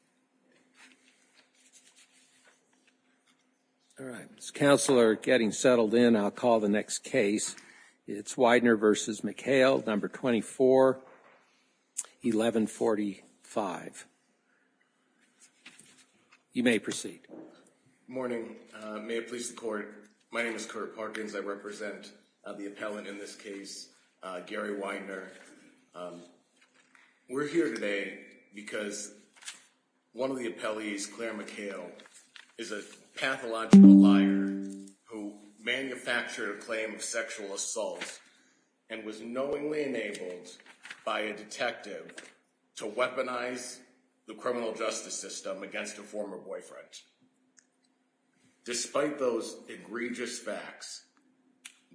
241145 You may proceed. Good morning. May it please the court, my name is Kurt Parkins. I represent the appellant in this case, Gary Weidner. We're here today because One of the appellees, Claire McHale, is a pathological liar who manufactured a claim of sexual assault and was knowingly enabled by a detective to weaponize the criminal justice system against a former boyfriend. Despite those egregious facts,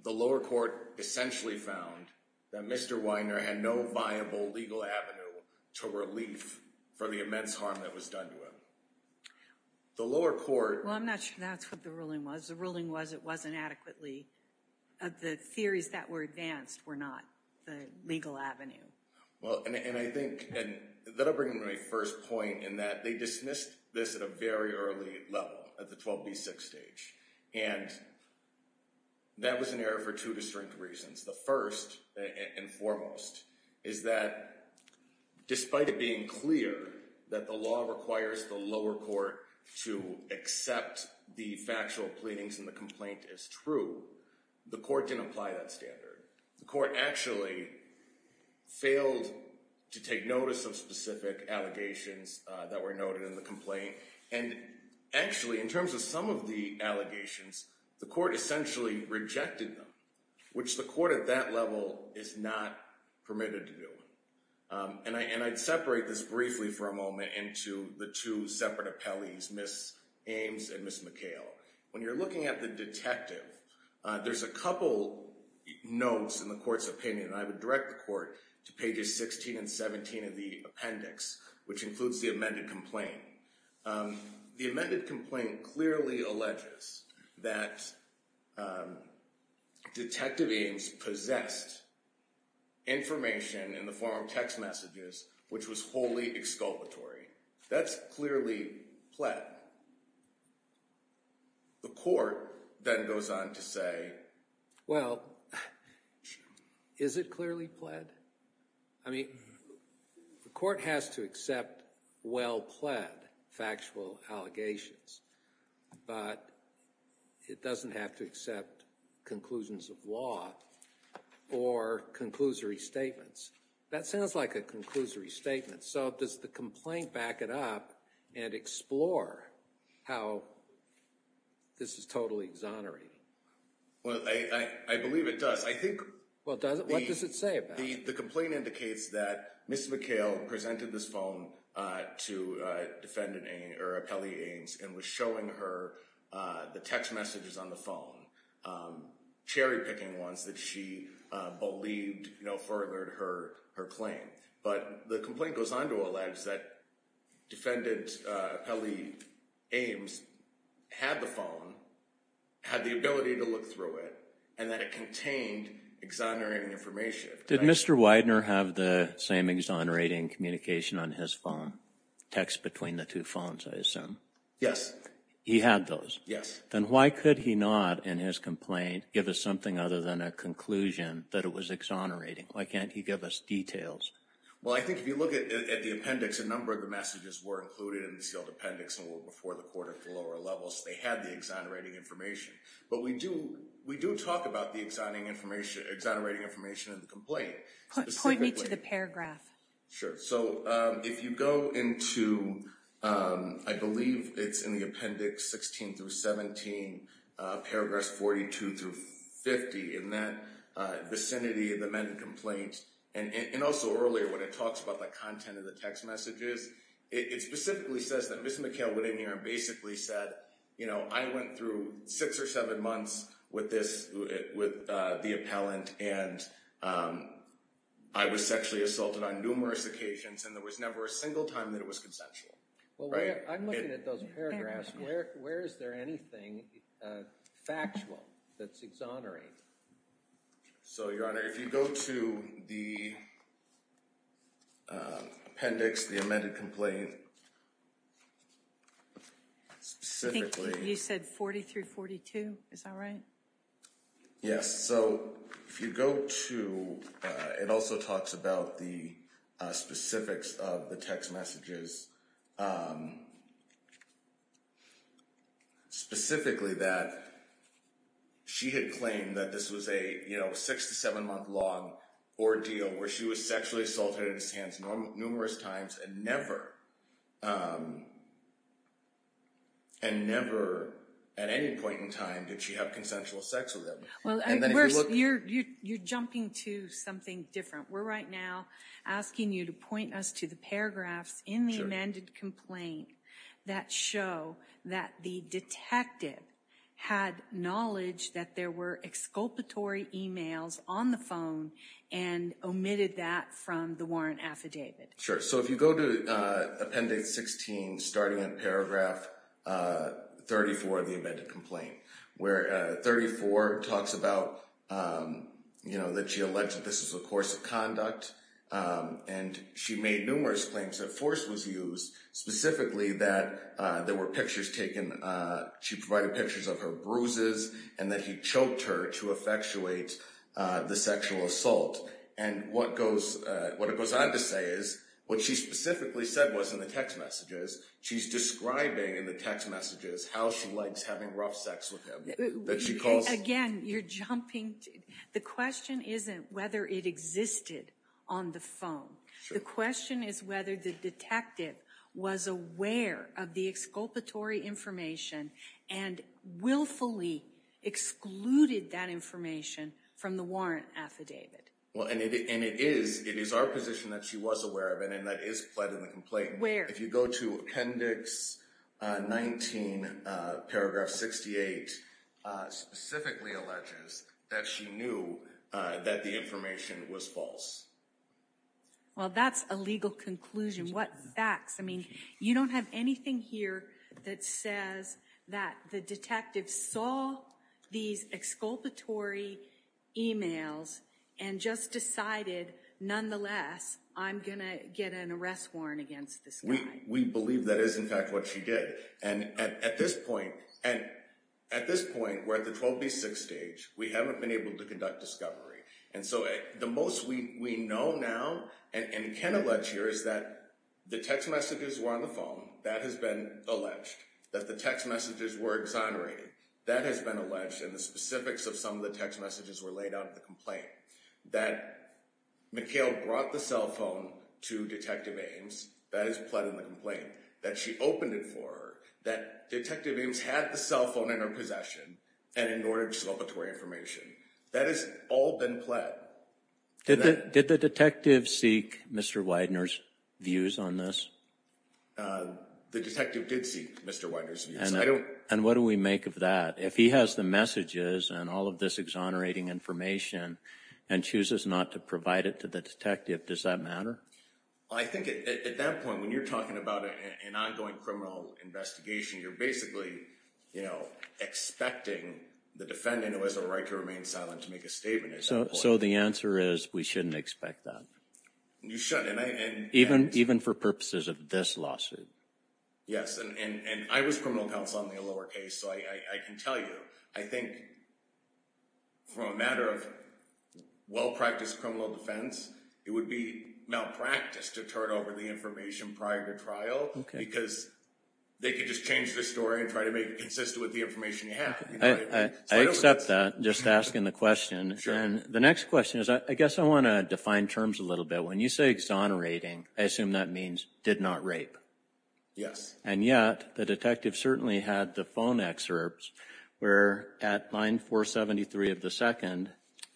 the lower court essentially found that Mr. Weidner had no viable legal avenue to relief for the immense harm that was done to him. The lower court... Well, I'm not sure that's what the ruling was. The ruling was it was inadequately...the theories that were advanced were not the legal avenue. Well, and I think...and that'll bring me to my first point in that they dismissed this at a very early level, at the 12B6 stage. And that was an error for two distinct reasons. The first, and foremost, is that despite it being clear that the law requires the lower court to accept the factual pleadings and the complaint as true, the court didn't apply that standard. The court actually failed to take notice of specific allegations that were noted in the complaint. And actually, in terms of some of the allegations, the court essentially rejected them, which the court at that level is not permitted to do. And I'd separate this briefly for a moment into the two separate appellees, Ms. Ames and Ms. McHale. When you're looking at the detective, there's a couple notes in the court's opinion, and I would direct the court to pages 16 and 17 of the appendix, which includes the amended complaint. The amended complaint clearly alleges that Detective Ames possessed information in the form of text messages which was wholly exculpatory. That's clearly pled. The court then goes on to say, well, is it clearly pled? I mean, the court has to accept well-pled factual allegations, but it doesn't have to accept conclusions of law or conclusory statements. That sounds like a conclusory statement, so does the complaint back it up and explore how this is totally exonerating? Well, I believe it does. What does it say about it? The complaint indicates that Ms. McHale presented this phone to defendant or appellee Ames and was showing her the text messages on the phone, cherry-picking ones that she believed furthered her claim. But the complaint goes on to allege that defendant or appellee Ames had the phone, had the ability to look through it, and that it contained exonerating information. Did Mr. Widener have the same exonerating communication on his phone, text between the two phones, I assume? Yes. He had those? Yes. Then why could he not, in his complaint, give us something other than a conclusion that it was exonerating? Why can't he give us details? Well, I think if you look at the appendix, a number of the messages were included in the sealed appendix and were before the court at the lower levels. They had the exonerating information. But we do talk about the exonerating information in the complaint. Point me to the paragraph. Sure. So if you go into, I believe it's in the appendix 16 through 17, paragraphs 42 through 50, in that vicinity of the amended complaint, and also earlier when it talks about the content of the text messages, it specifically says that Ms. McHale Widener basically said, I went through six or seven months with the appellant, and I was sexually assaulted on numerous occasions, and there was never a single time that it was consensual. I'm looking at those paragraphs. Where is there anything factual that's exonerating? So, Your Honor, if you go to the appendix, the amended complaint, specifically. You said 40 through 42. Is that right? Yes. So if you go to, it also talks about the specifics of the text messages, specifically that she had claimed that this was a six to seven month long ordeal where she was sexually assaulted in his hands numerous times and never, and never at any point in time did she have consensual sex with him. Well, you're jumping to something different. We're right now asking you to point us to the paragraphs in the amended complaint that show that the detective had knowledge that there were exculpatory emails on the phone and omitted that from the warrant affidavit. Sure. So if you go to appendix 16, starting in paragraph 34 of the amended complaint, where 34 talks about that she alleged that this was a course of conduct, and she made numerous claims that force was used, specifically that there were pictures taken, she provided pictures of her bruises, and that he choked her to effectuate the sexual assault. And what it goes on to say is what she specifically said was in the text messages, she's describing in the text messages how she likes having rough sex with him. Again, you're jumping, the question isn't whether it existed on the phone. The question is whether the detective was aware of the exculpatory information and willfully excluded that information from the warrant affidavit. And it is our position that she was aware of it, and that is pled in the complaint. Where? If you go to appendix 19, paragraph 68, specifically alleges that she knew that the information was false. Well, that's a legal conclusion. What facts? I mean, you don't have anything here that says that the detective saw these exculpatory emails and just decided, nonetheless, I'm going to get an arrest warrant against this guy. We believe that is in fact what she did. And at this point, we're at the 12B6 stage. We haven't been able to conduct discovery. And so the most we know now and can allege here is that the text messages were on the phone. That has been alleged. That the text messages were exonerated. That has been alleged. And the specifics of some of the text messages were laid out in the complaint. That Mikhail brought the cell phone to Detective Ames. That is pled in the complaint. That she opened it for her. That Detective Ames had the cell phone in her possession and ignored exculpatory information. That has all been pled. Did the detective seek Mr. Widener's views on this? The detective did seek Mr. Widener's views. And what do we make of that? If he has the messages and all of this exonerating information and chooses not to provide it to the detective, does that matter? I think at that point, when you're talking about an ongoing criminal investigation, you're basically, you know, expecting the defendant who has the right to remain silent to make a statement. So the answer is we shouldn't expect that. You shouldn't. Even for purposes of this lawsuit. Yes. And I was criminal counsel on the Allure case. So I can tell you, I think for a matter of well-practiced criminal defense, it would be malpractice to turn over the information prior to trial. Because they could just change the story and try to make it consistent with the information you have. I accept that. Just asking the question. And the next question is, I guess I want to define terms a little bit. So when you say exonerating, I assume that means did not rape? Yes. And yet, the detective certainly had the phone excerpts where at line 473 of the second,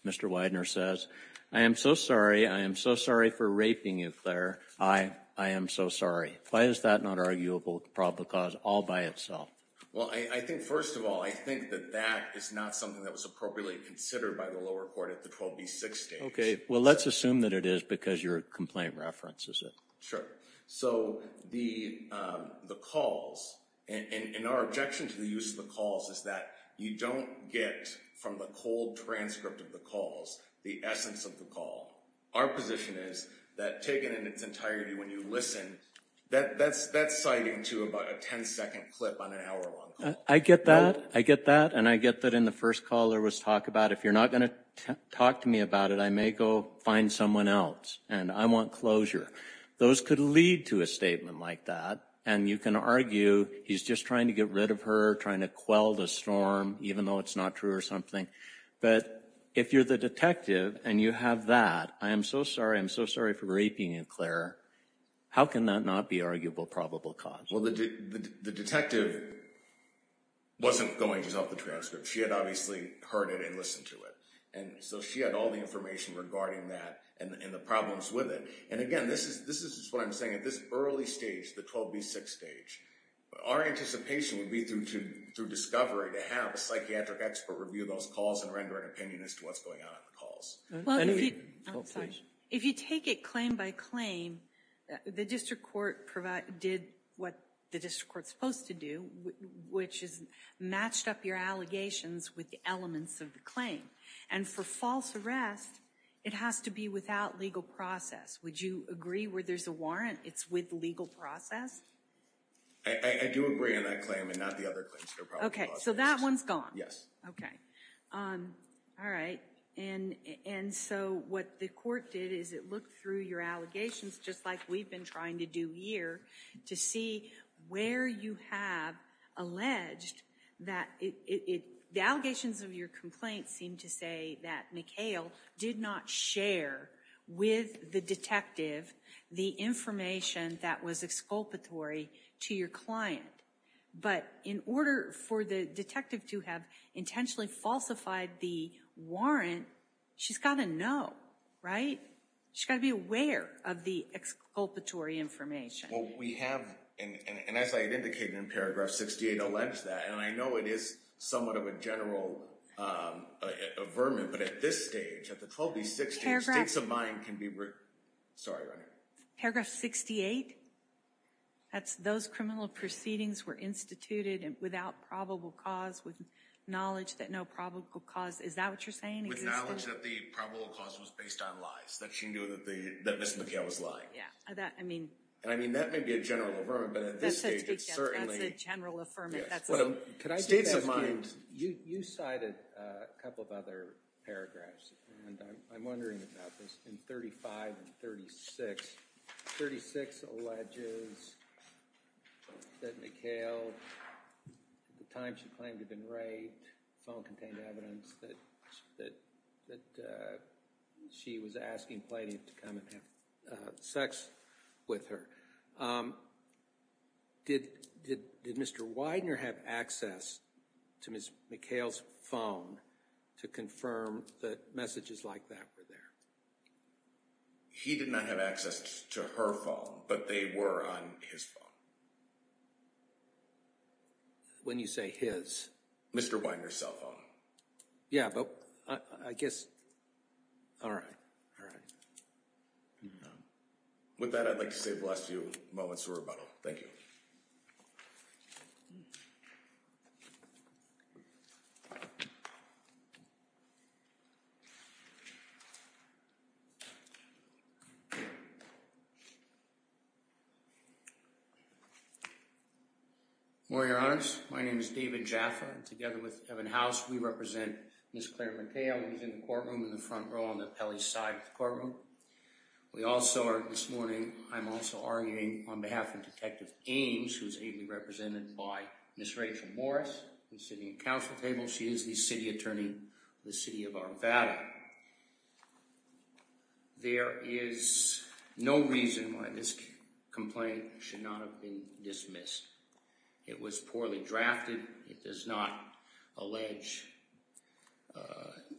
Mr. Widener says, I am so sorry. I am so sorry for raping you, Claire. I am so sorry. Why is that not arguable probable cause all by itself? Well, I think first of all, I think that that is not something that was appropriately considered by the lower court at the 12B6 stage. Okay. Well, let's assume that it is because your complaint references it. So the calls, and our objection to the use of the calls is that you don't get from the cold transcript of the calls the essence of the call. Our position is that taken in its entirety when you listen, that's citing to about a 10-second clip on an hour-long call. I get that. I get that. And I get that in the first call there was talk about if you're not going to talk to me about it, I may go find someone else, and I want closure. Those could lead to a statement like that, and you can argue he's just trying to get rid of her, trying to quell the storm, even though it's not true or something. But if you're the detective and you have that, I am so sorry. I'm so sorry for raping you, Claire. How can that not be arguable probable cause? Well, the detective wasn't going to sell the transcript. She had obviously heard it and listened to it. And so she had all the information regarding that and the problems with it. And, again, this is what I'm saying. At this early stage, the 12B6 stage, our anticipation would be through discovery to have a psychiatric expert review those calls and render an opinion as to what's going on in the calls. If you take it claim by claim, the district court did what the district court's supposed to do, which is matched up your allegations with the elements of the claim. And for false arrest, it has to be without legal process. Would you agree where there's a warrant? It's with legal process? I do agree on that claim and not the other claims. OK, so that one's gone. Yes. OK. All right. And so what the court did is it looked through your allegations, just like we've been trying to do here, to see where you have alleged that the allegations of your complaint seem to say that McHale did not share with the detective the information that was exculpatory to your client. But in order for the detective to have intentionally falsified the warrant, she's got to know, right? She's got to be aware of the exculpatory information. Well, we have, and as I had indicated in paragraph 68, allege that. And I know it is somewhat of a general vermin. But at this stage, at the 12 to 16, states of mind can be. Sorry. Paragraph 68. That's those criminal proceedings were instituted without probable cause, with knowledge that no probable cause. Is that what you're saying? With knowledge that the probable cause was based on lies, that she knew that Ms. McHale was lying. Yeah, I mean. And I mean, that may be a general vermin, but at this stage, it's certainly. That's a general affirmative. States of mind. You cited a couple of other paragraphs, and I'm wondering about this. In 35 and 36, 36 alleges that McHale, at the time she claimed to have been raped, phone contained evidence that she was asking Plaintiff to come and have sex with her. Did Mr. Widener have access to Ms. McHale's phone to confirm that messages like that were there? He did not have access to her phone, but they were on his phone. When you say his. Mr. Widener's cell phone. Yeah, but I guess. All right. All right. With that, I'd like to say bless you. Moments of rebuttal. Thank you. For your eyes. My name is David Jaffa. Together with Kevin House, we represent Ms. Claire McHale. He's in the courtroom in the front row on the Pelley side of the courtroom. We also are this morning. I'm also arguing on behalf of Detective Ames, who is ably represented by Miss Rachel Morris, who's sitting at council table. She is the city attorney, the city of our value. There is no reason why this complaint should not have been dismissed. It was poorly drafted. It does not allege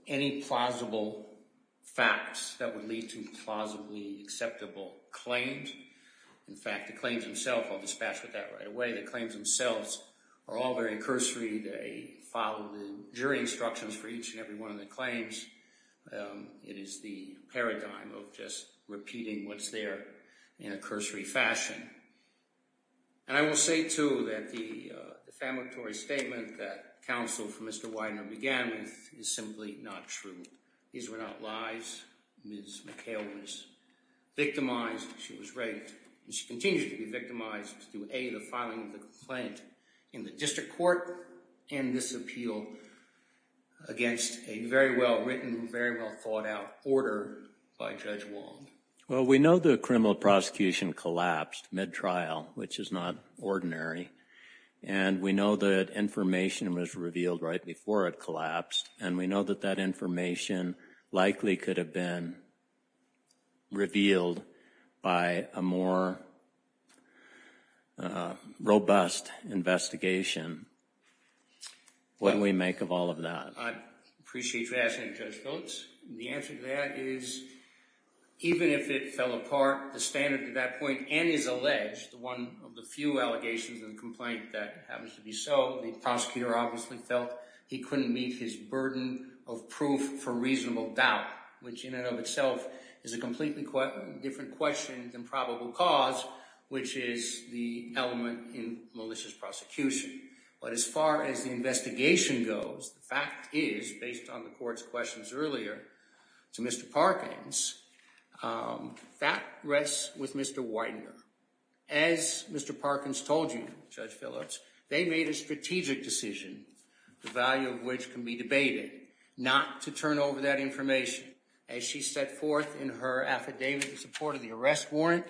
any plausible facts that would lead to plausibly acceptable claims. In fact, the claims himself will dispatch with that right away. The claims themselves are all very cursory. They follow the jury instructions for each and every one of the claims. It is the paradigm of just repeating what's there in a cursory fashion. And I will say, too, that the defamatory statement that counsel for Mr. Widener began with is simply not true. These were not lies. Ms. McHale was victimized. She was raped. She continues to be victimized through, A, the filing of the complaint in the district court, and this appeal against a very well-written, very well-thought-out order by Judge Wong. Well, we know the criminal prosecution collapsed mid-trial, which is not ordinary, and we know that information was revealed right before it collapsed, and we know that that information likely could have been revealed by a more robust investigation. What do we make of all of that? I appreciate your asking, Judge Phillips. The answer to that is even if it fell apart, the standard at that point and is alleged, one of the few allegations in the complaint that happens to be so, the prosecutor obviously felt he couldn't meet his burden of proof for reasonable doubt, which in and of itself is a completely different question than probable cause, which is the element in malicious prosecution. But as far as the investigation goes, the fact is, based on the court's questions earlier to Mr. Parkins, that rests with Mr. Widener. As Mr. Parkins told you, Judge Phillips, they made a strategic decision, the value of which can be debated, not to turn over that information. As she set forth in her affidavit in support of the arrest warrant,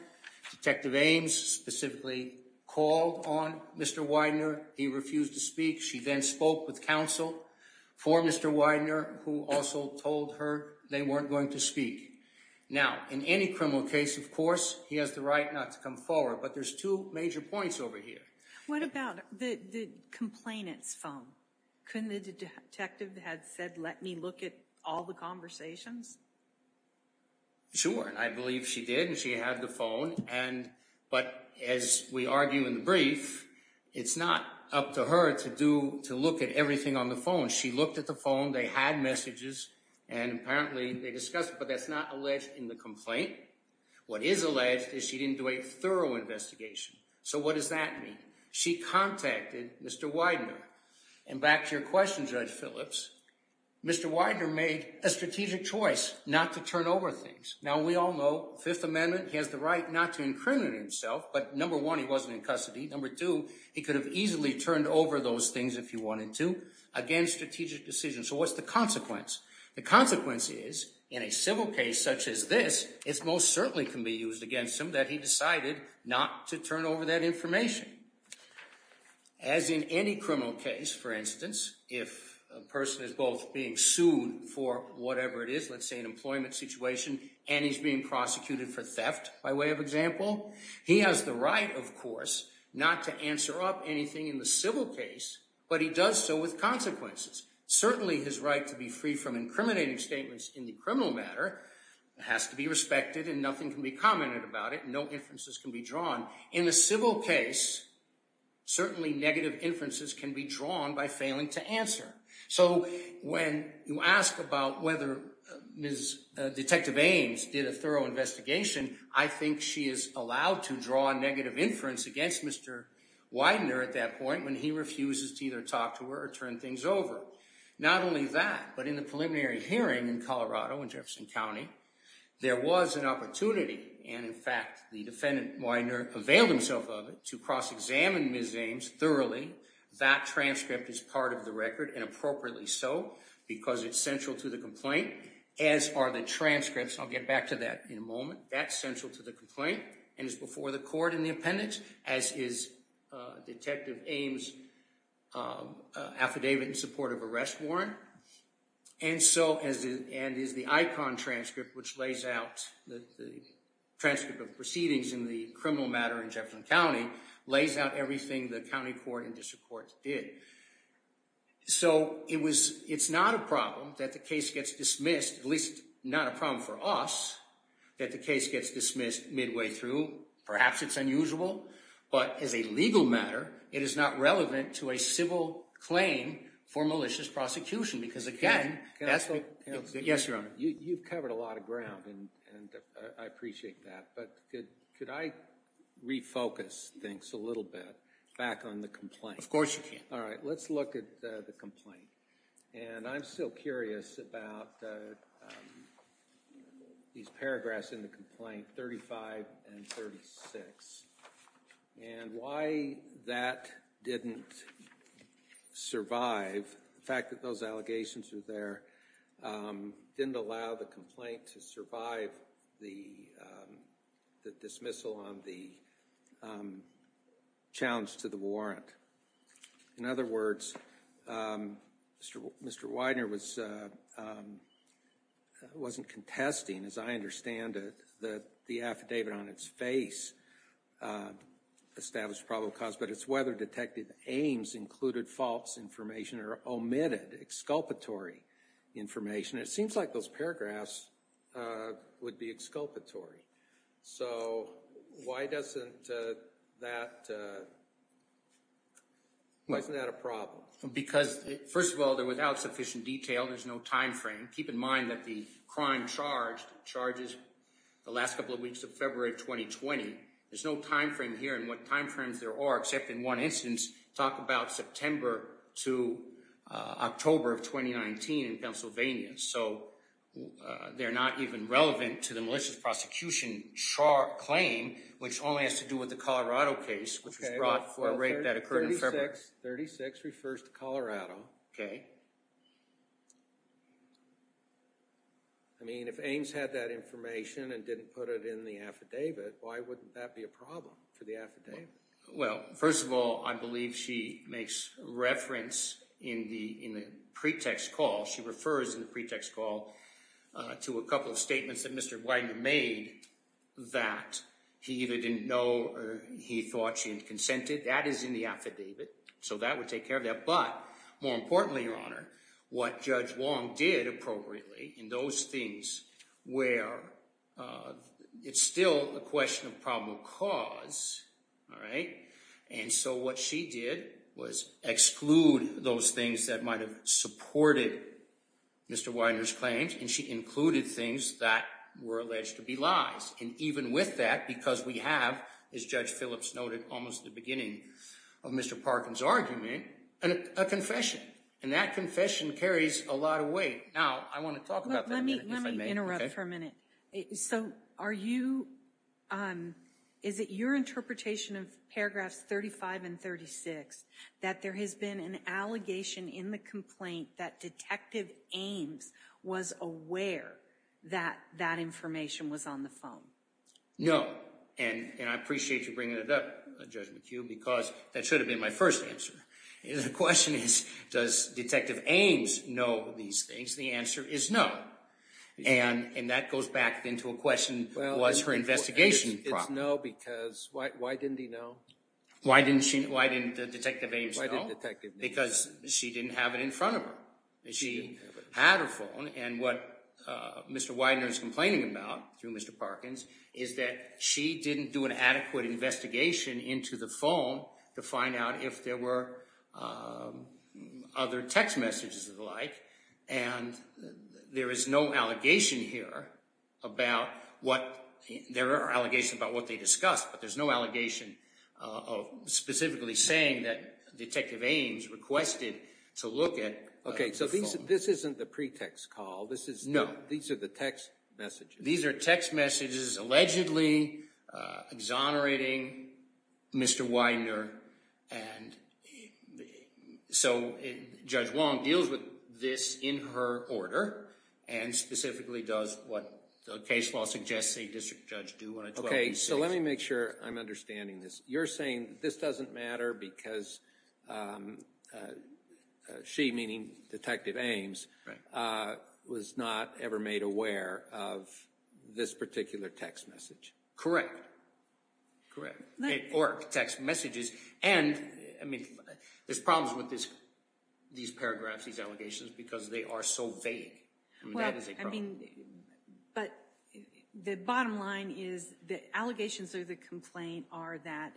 Detective Ames specifically called on Mr. Widener. He refused to speak. She then spoke with counsel for Mr. Widener, who also told her they weren't going to speak. Now, in any criminal case, of course, he has the right not to come forward, but there's two major points over here. What about the complainant's phone? Couldn't the detective have said, let me look at all the conversations? Sure, and I believe she did, and she had the phone. But as we argue in the brief, it's not up to her to look at everything on the phone. She looked at the phone. They had messages, and apparently they discussed it, but that's not alleged in the complaint. What is alleged is she didn't do a thorough investigation. So what does that mean? She contacted Mr. Widener. And back to your question, Judge Phillips. Mr. Widener made a strategic choice not to turn over things. Now, we all know Fifth Amendment, he has the right not to incriminate himself, but number one, he wasn't in custody. Number two, he could have easily turned over those things if he wanted to. Again, strategic decision. So what's the consequence? The consequence is in a civil case such as this, it most certainly can be used against him that he decided not to turn over that information. As in any criminal case, for instance, if a person is both being sued for whatever it is, let's say an employment situation, and he's being prosecuted for theft, by way of example, he has the right, of course, not to answer up anything in the civil case, but he does so with consequences. Certainly his right to be free from incriminating statements in the criminal matter has to be respected, and nothing can be commented about it. No inferences can be drawn. In a civil case, certainly negative inferences can be drawn by failing to answer. So when you ask about whether Ms. Detective Ames did a thorough investigation, I think she is allowed to draw a negative inference against Mr. Widener at that point when he refuses to either talk to her or turn things over. Not only that, but in the preliminary hearing in Colorado, in Jefferson County, there was an opportunity, and in fact, the defendant, Widener, availed himself of it to cross-examine Ms. Ames thoroughly. That transcript is part of the record, and appropriately so, because it's central to the complaint, as are the transcripts. I'll get back to that in a moment. That's central to the complaint, and is before the court in the appendix, as is Detective Ames' affidavit in support of arrest warrant, and is the ICON transcript, which lays out the transcript of proceedings in the criminal matter in Jefferson County, lays out everything the county court and district courts did. So it's not a problem that the case gets dismissed, at least not a problem for us, that the case gets dismissed midway through. Perhaps it's unusual, but as a legal matter, it is not relevant to a civil claim for malicious prosecution, because again, that's the... Counsel? Yes, Your Honor. You've covered a lot of ground, and I appreciate that, but could I refocus things a little bit back on the complaint? Of course you can. All right, let's look at the complaint. And I'm still curious about these paragraphs in the complaint, 35 and 36, and why that didn't survive. The fact that those allegations are there didn't allow the complaint to survive the dismissal on the challenge to the warrant. In other words, Mr. Widener wasn't contesting, as I understand it, that the affidavit on its face established probable cause, but it's whether Detective Ames included false information or omitted exculpatory information. It seems like those paragraphs would be exculpatory. So why doesn't that... Why isn't that a problem? Because, first of all, they're without sufficient detail. There's no time frame. Keep in mind that the crime charged charges the last couple of weeks of February 2020. There's no time frame here. And what time frames there are, except in one instance, talk about September to October of 2019 in Pennsylvania. So they're not even relevant to the malicious prosecution claim, which only has to do with the Colorado case, which was brought for a rape that occurred in February. 36 refers to Colorado. Okay. I mean, if Ames had that information and didn't put it in the affidavit, why wouldn't that be a problem for the affidavit? Well, first of all, I believe she makes reference in the pretext call. She refers in the pretext call to a couple of statements that Mr. Widener made that he either didn't know or he thought she had consented. That is in the affidavit, so that would take care of that. But more importantly, Your Honor, what Judge Wong did appropriately in those things where it's still a question of probable cause, all right, and so what she did was exclude those things that might have supported Mr. Widener's claims, and she included things that were alleged to be lies. And even with that, because we have, as Judge Phillips noted, almost at the beginning of Mr. Parkin's argument, a confession, and that confession carries a lot of weight. Now, I want to talk about that a minute if I may. Let me interrupt for a minute. So are you – is it your interpretation of paragraphs 35 and 36 that there has been an allegation in the complaint that Detective Ames was aware that that information was on the phone? No, and I appreciate you bringing it up, Judge McHugh, because that should have been my first answer. The question is, does Detective Ames know these things? The answer is no, and that goes back into a question, was her investigation – It's no because why didn't he know? Why didn't Detective Ames know? Why didn't Detective Ames know? Because she didn't have it in front of her. She had her phone, and what Mr. Widener is complaining about through Mr. Parkin's is that she didn't do an adequate investigation into the phone to find out if there were other text messages of the like, and there is no allegation here about what – there are allegations about what they discussed, but there's no allegation of specifically saying that Detective Ames requested to look at the phone. Okay, so this isn't the pretext call. No. These are the text messages. These are text messages allegedly exonerating Mr. Widener, and so Judge Wong deals with this in her order and specifically does what the case law suggests a district judge do on a 12-week basis. Okay, so let me make sure I'm understanding this. You're saying this doesn't matter because she, meaning Detective Ames, was not ever made aware of this particular text message? Correct. Or text messages, and I mean, there's problems with these paragraphs, these allegations, because they are so vague. I mean, that is a problem. Well, I mean, but the bottom line is the allegations of the complaint are that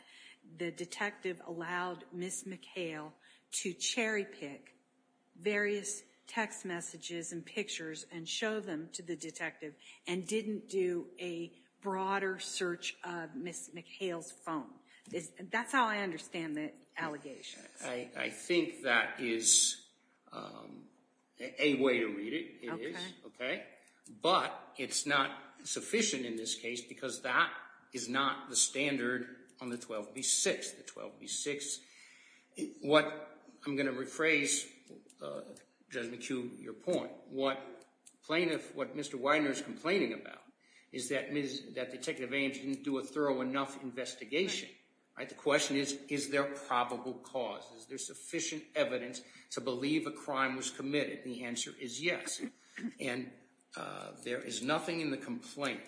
the detective allowed Ms. McHale to cherry-pick various text messages and pictures and show them to the detective and didn't do a broader search of Ms. McHale's phone. That's how I understand the allegations. I think that is a way to read it. It is. Okay. But it's not sufficient in this case because that is not the standard on the 12B6. The 12B6, what I'm going to rephrase, Judge McHugh, your point, what Mr. Widener is complaining about is that Detective Ames didn't do a thorough enough investigation. The question is, is there probable cause? Is there sufficient evidence to believe a crime was committed? And the answer is yes. And there is nothing in the complaint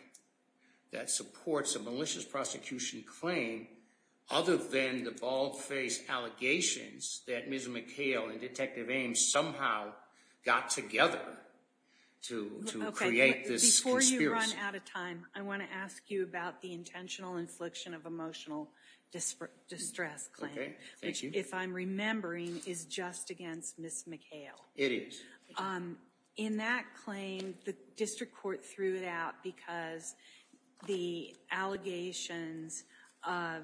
that supports a malicious prosecution claim other than the bald-faced allegations that Ms. McHale and Detective Ames somehow got together to create this conspiracy. Before you run out of time, I want to ask you about the intentional infliction of emotional distress claim. Okay. Thank you. Which, if I'm remembering, is just against Ms. McHale. It is. In that claim, the district court threw it out because the allegations of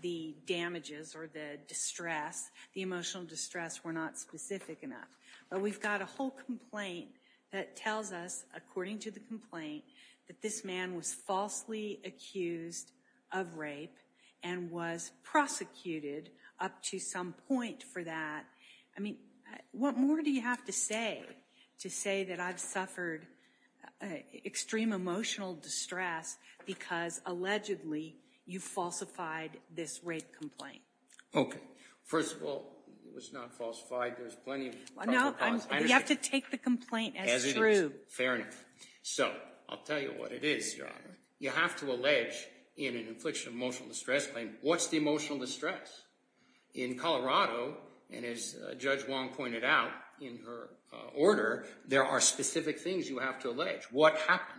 the damages or the distress, the emotional distress, were not specific enough. But we've got a whole complaint that tells us, according to the complaint, that this man was falsely accused of rape and was prosecuted up to some point for that. I mean, what more do you have to say to say that I've suffered extreme emotional distress because, allegedly, you falsified this rape complaint? Okay. First of all, it was not falsified. There was plenty of probable cause. No, you have to take the complaint as true. As it is. Fair enough. So, I'll tell you what it is, Your Honor. You have to allege in an infliction of emotional distress claim, what's the emotional distress? In Colorado, and as Judge Wong pointed out in her order, there are specific things you have to allege. What happened?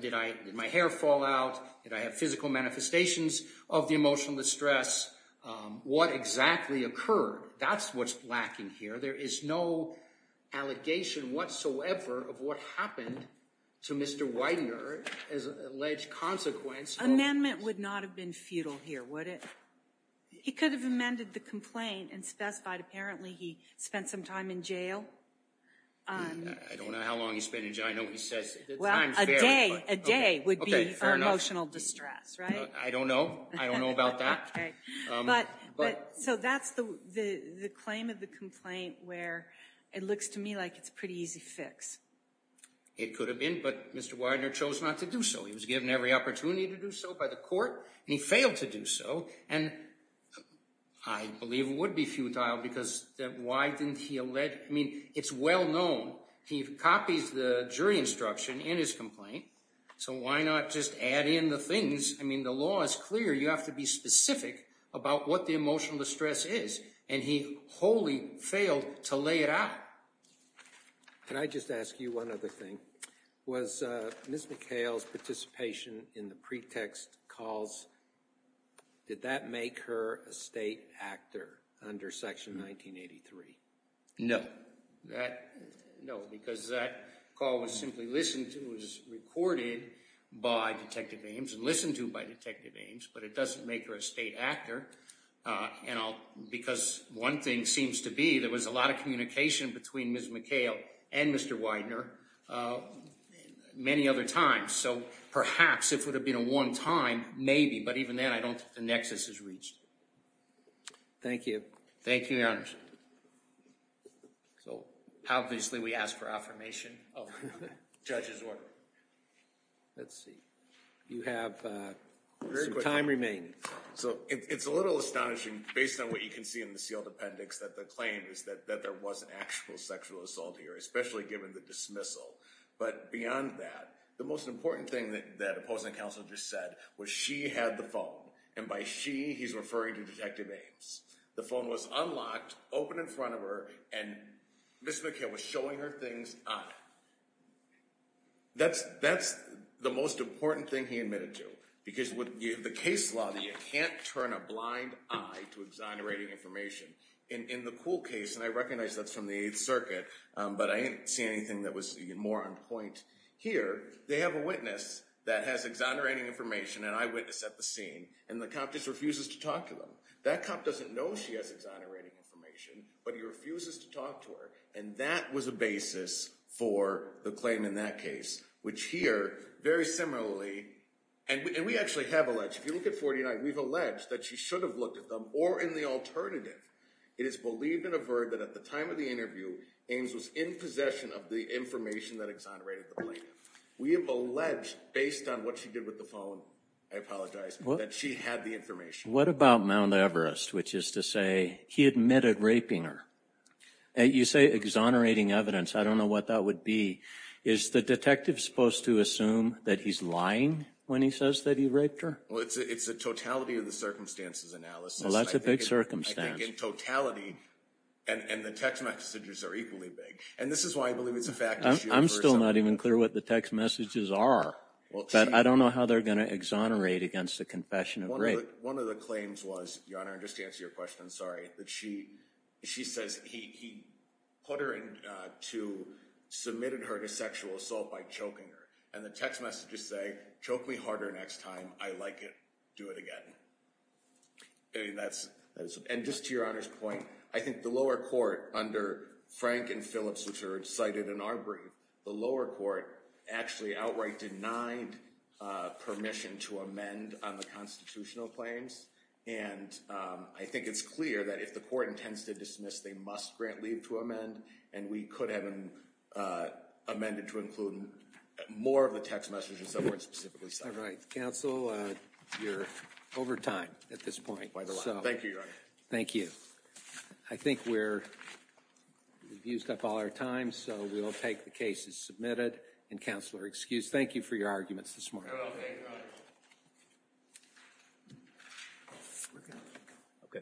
Did my hair fall out? Did I have physical manifestations of the emotional distress? What exactly occurred? That's what's lacking here. There is no allegation whatsoever of what happened to Mr. Widener as an alleged consequence. Amendment would not have been futile here, would it? He could have amended the complaint and specified, apparently, he spent some time in jail. I don't know how long he spent in jail. I know he says it's unfair. A day would be for emotional distress, right? I don't know. I don't know about that. So, that's the claim of the complaint where it looks to me like it's a pretty easy fix. It could have been, but Mr. Widener chose not to do so. He was given every opportunity to do so by the court, and he failed to do so. And I believe it would be futile because why didn't he allege? I mean, it's well known. He copies the jury instruction in his complaint, so why not just add in the things? I mean, the law is clear. You have to be specific about what the emotional distress is, and he wholly failed to lay it out. Can I just ask you one other thing? Was Ms. McHale's participation in the pretext calls, did that make her a state actor under Section 1983? No. No, because that call was simply listened to, was recorded by Detective Ames and listened to by Detective Ames, but it doesn't make her a state actor. And because one thing seems to be there was a lot of communication between Ms. McHale and Mr. Widener many other times, so perhaps if it would have been a one-time, maybe, but even then I don't think the nexus is reached. Thank you. Thank you, Your Honor. So obviously we ask for affirmation of the judge's order. Let's see. You have some time remaining. So it's a little astonishing, based on what you can see in the sealed appendix, that the claim is that there was an actual sexual assault here, especially given the dismissal. But beyond that, the most important thing that opposing counsel just said was she had the phone, and by she he's referring to Detective Ames. The phone was unlocked, open in front of her, and Ms. McHale was showing her things on it. That's the most important thing he admitted to, because with the case law, you can't turn a blind eye to exonerating information. In the Kuhl case, and I recognize that's from the Eighth Circuit, but I didn't see anything that was more on point here, they have a witness that has exonerating information, an eyewitness at the scene, and the cop just refuses to talk to them. That cop doesn't know she has exonerating information, but he refuses to talk to her, and that was a basis for the claim in that case, which here, very similarly, and we actually have alleged, if you look at 49, we've alleged that she should have looked at them, or in the alternative, it is believed and averred that at the time of the interview, Ames was in possession of the information that exonerated the plaintiff. We have alleged, based on what she did with the phone, I apologize, that she had the information. What about Mount Everest, which is to say he admitted raping her? You say exonerating evidence. I don't know what that would be. Is the detective supposed to assume that he's lying when he says that he raped her? Well, it's a totality of the circumstances analysis. Well, that's a big circumstance. I think in totality, and the text messages are equally big, and this is why I believe it's a fact issue. I'm still not even clear what the text messages are, but I don't know how they're going to exonerate against the confession of rape. One of the claims was, Your Honor, just to answer your question, sorry, that she says he submitted her to sexual assault by choking her, and the text messages say, choke me harder next time. I like it. Do it again. And just to Your Honor's point, I think the lower court under Frank and Phillips, which are cited in our brief, the lower court actually outright denied permission to amend on the constitutional claims, and I think it's clear that if the court intends to dismiss, they must grant leave to amend, and we could have them amended to include more of the text messages that weren't specifically cited. All right. Counsel, you're over time at this point. Thank you, Your Honor. Thank you. I think we've used up all our time, so we'll take the cases submitted. And, Counselor, excuse, thank you for your arguments this morning. You're okay, Your Honor.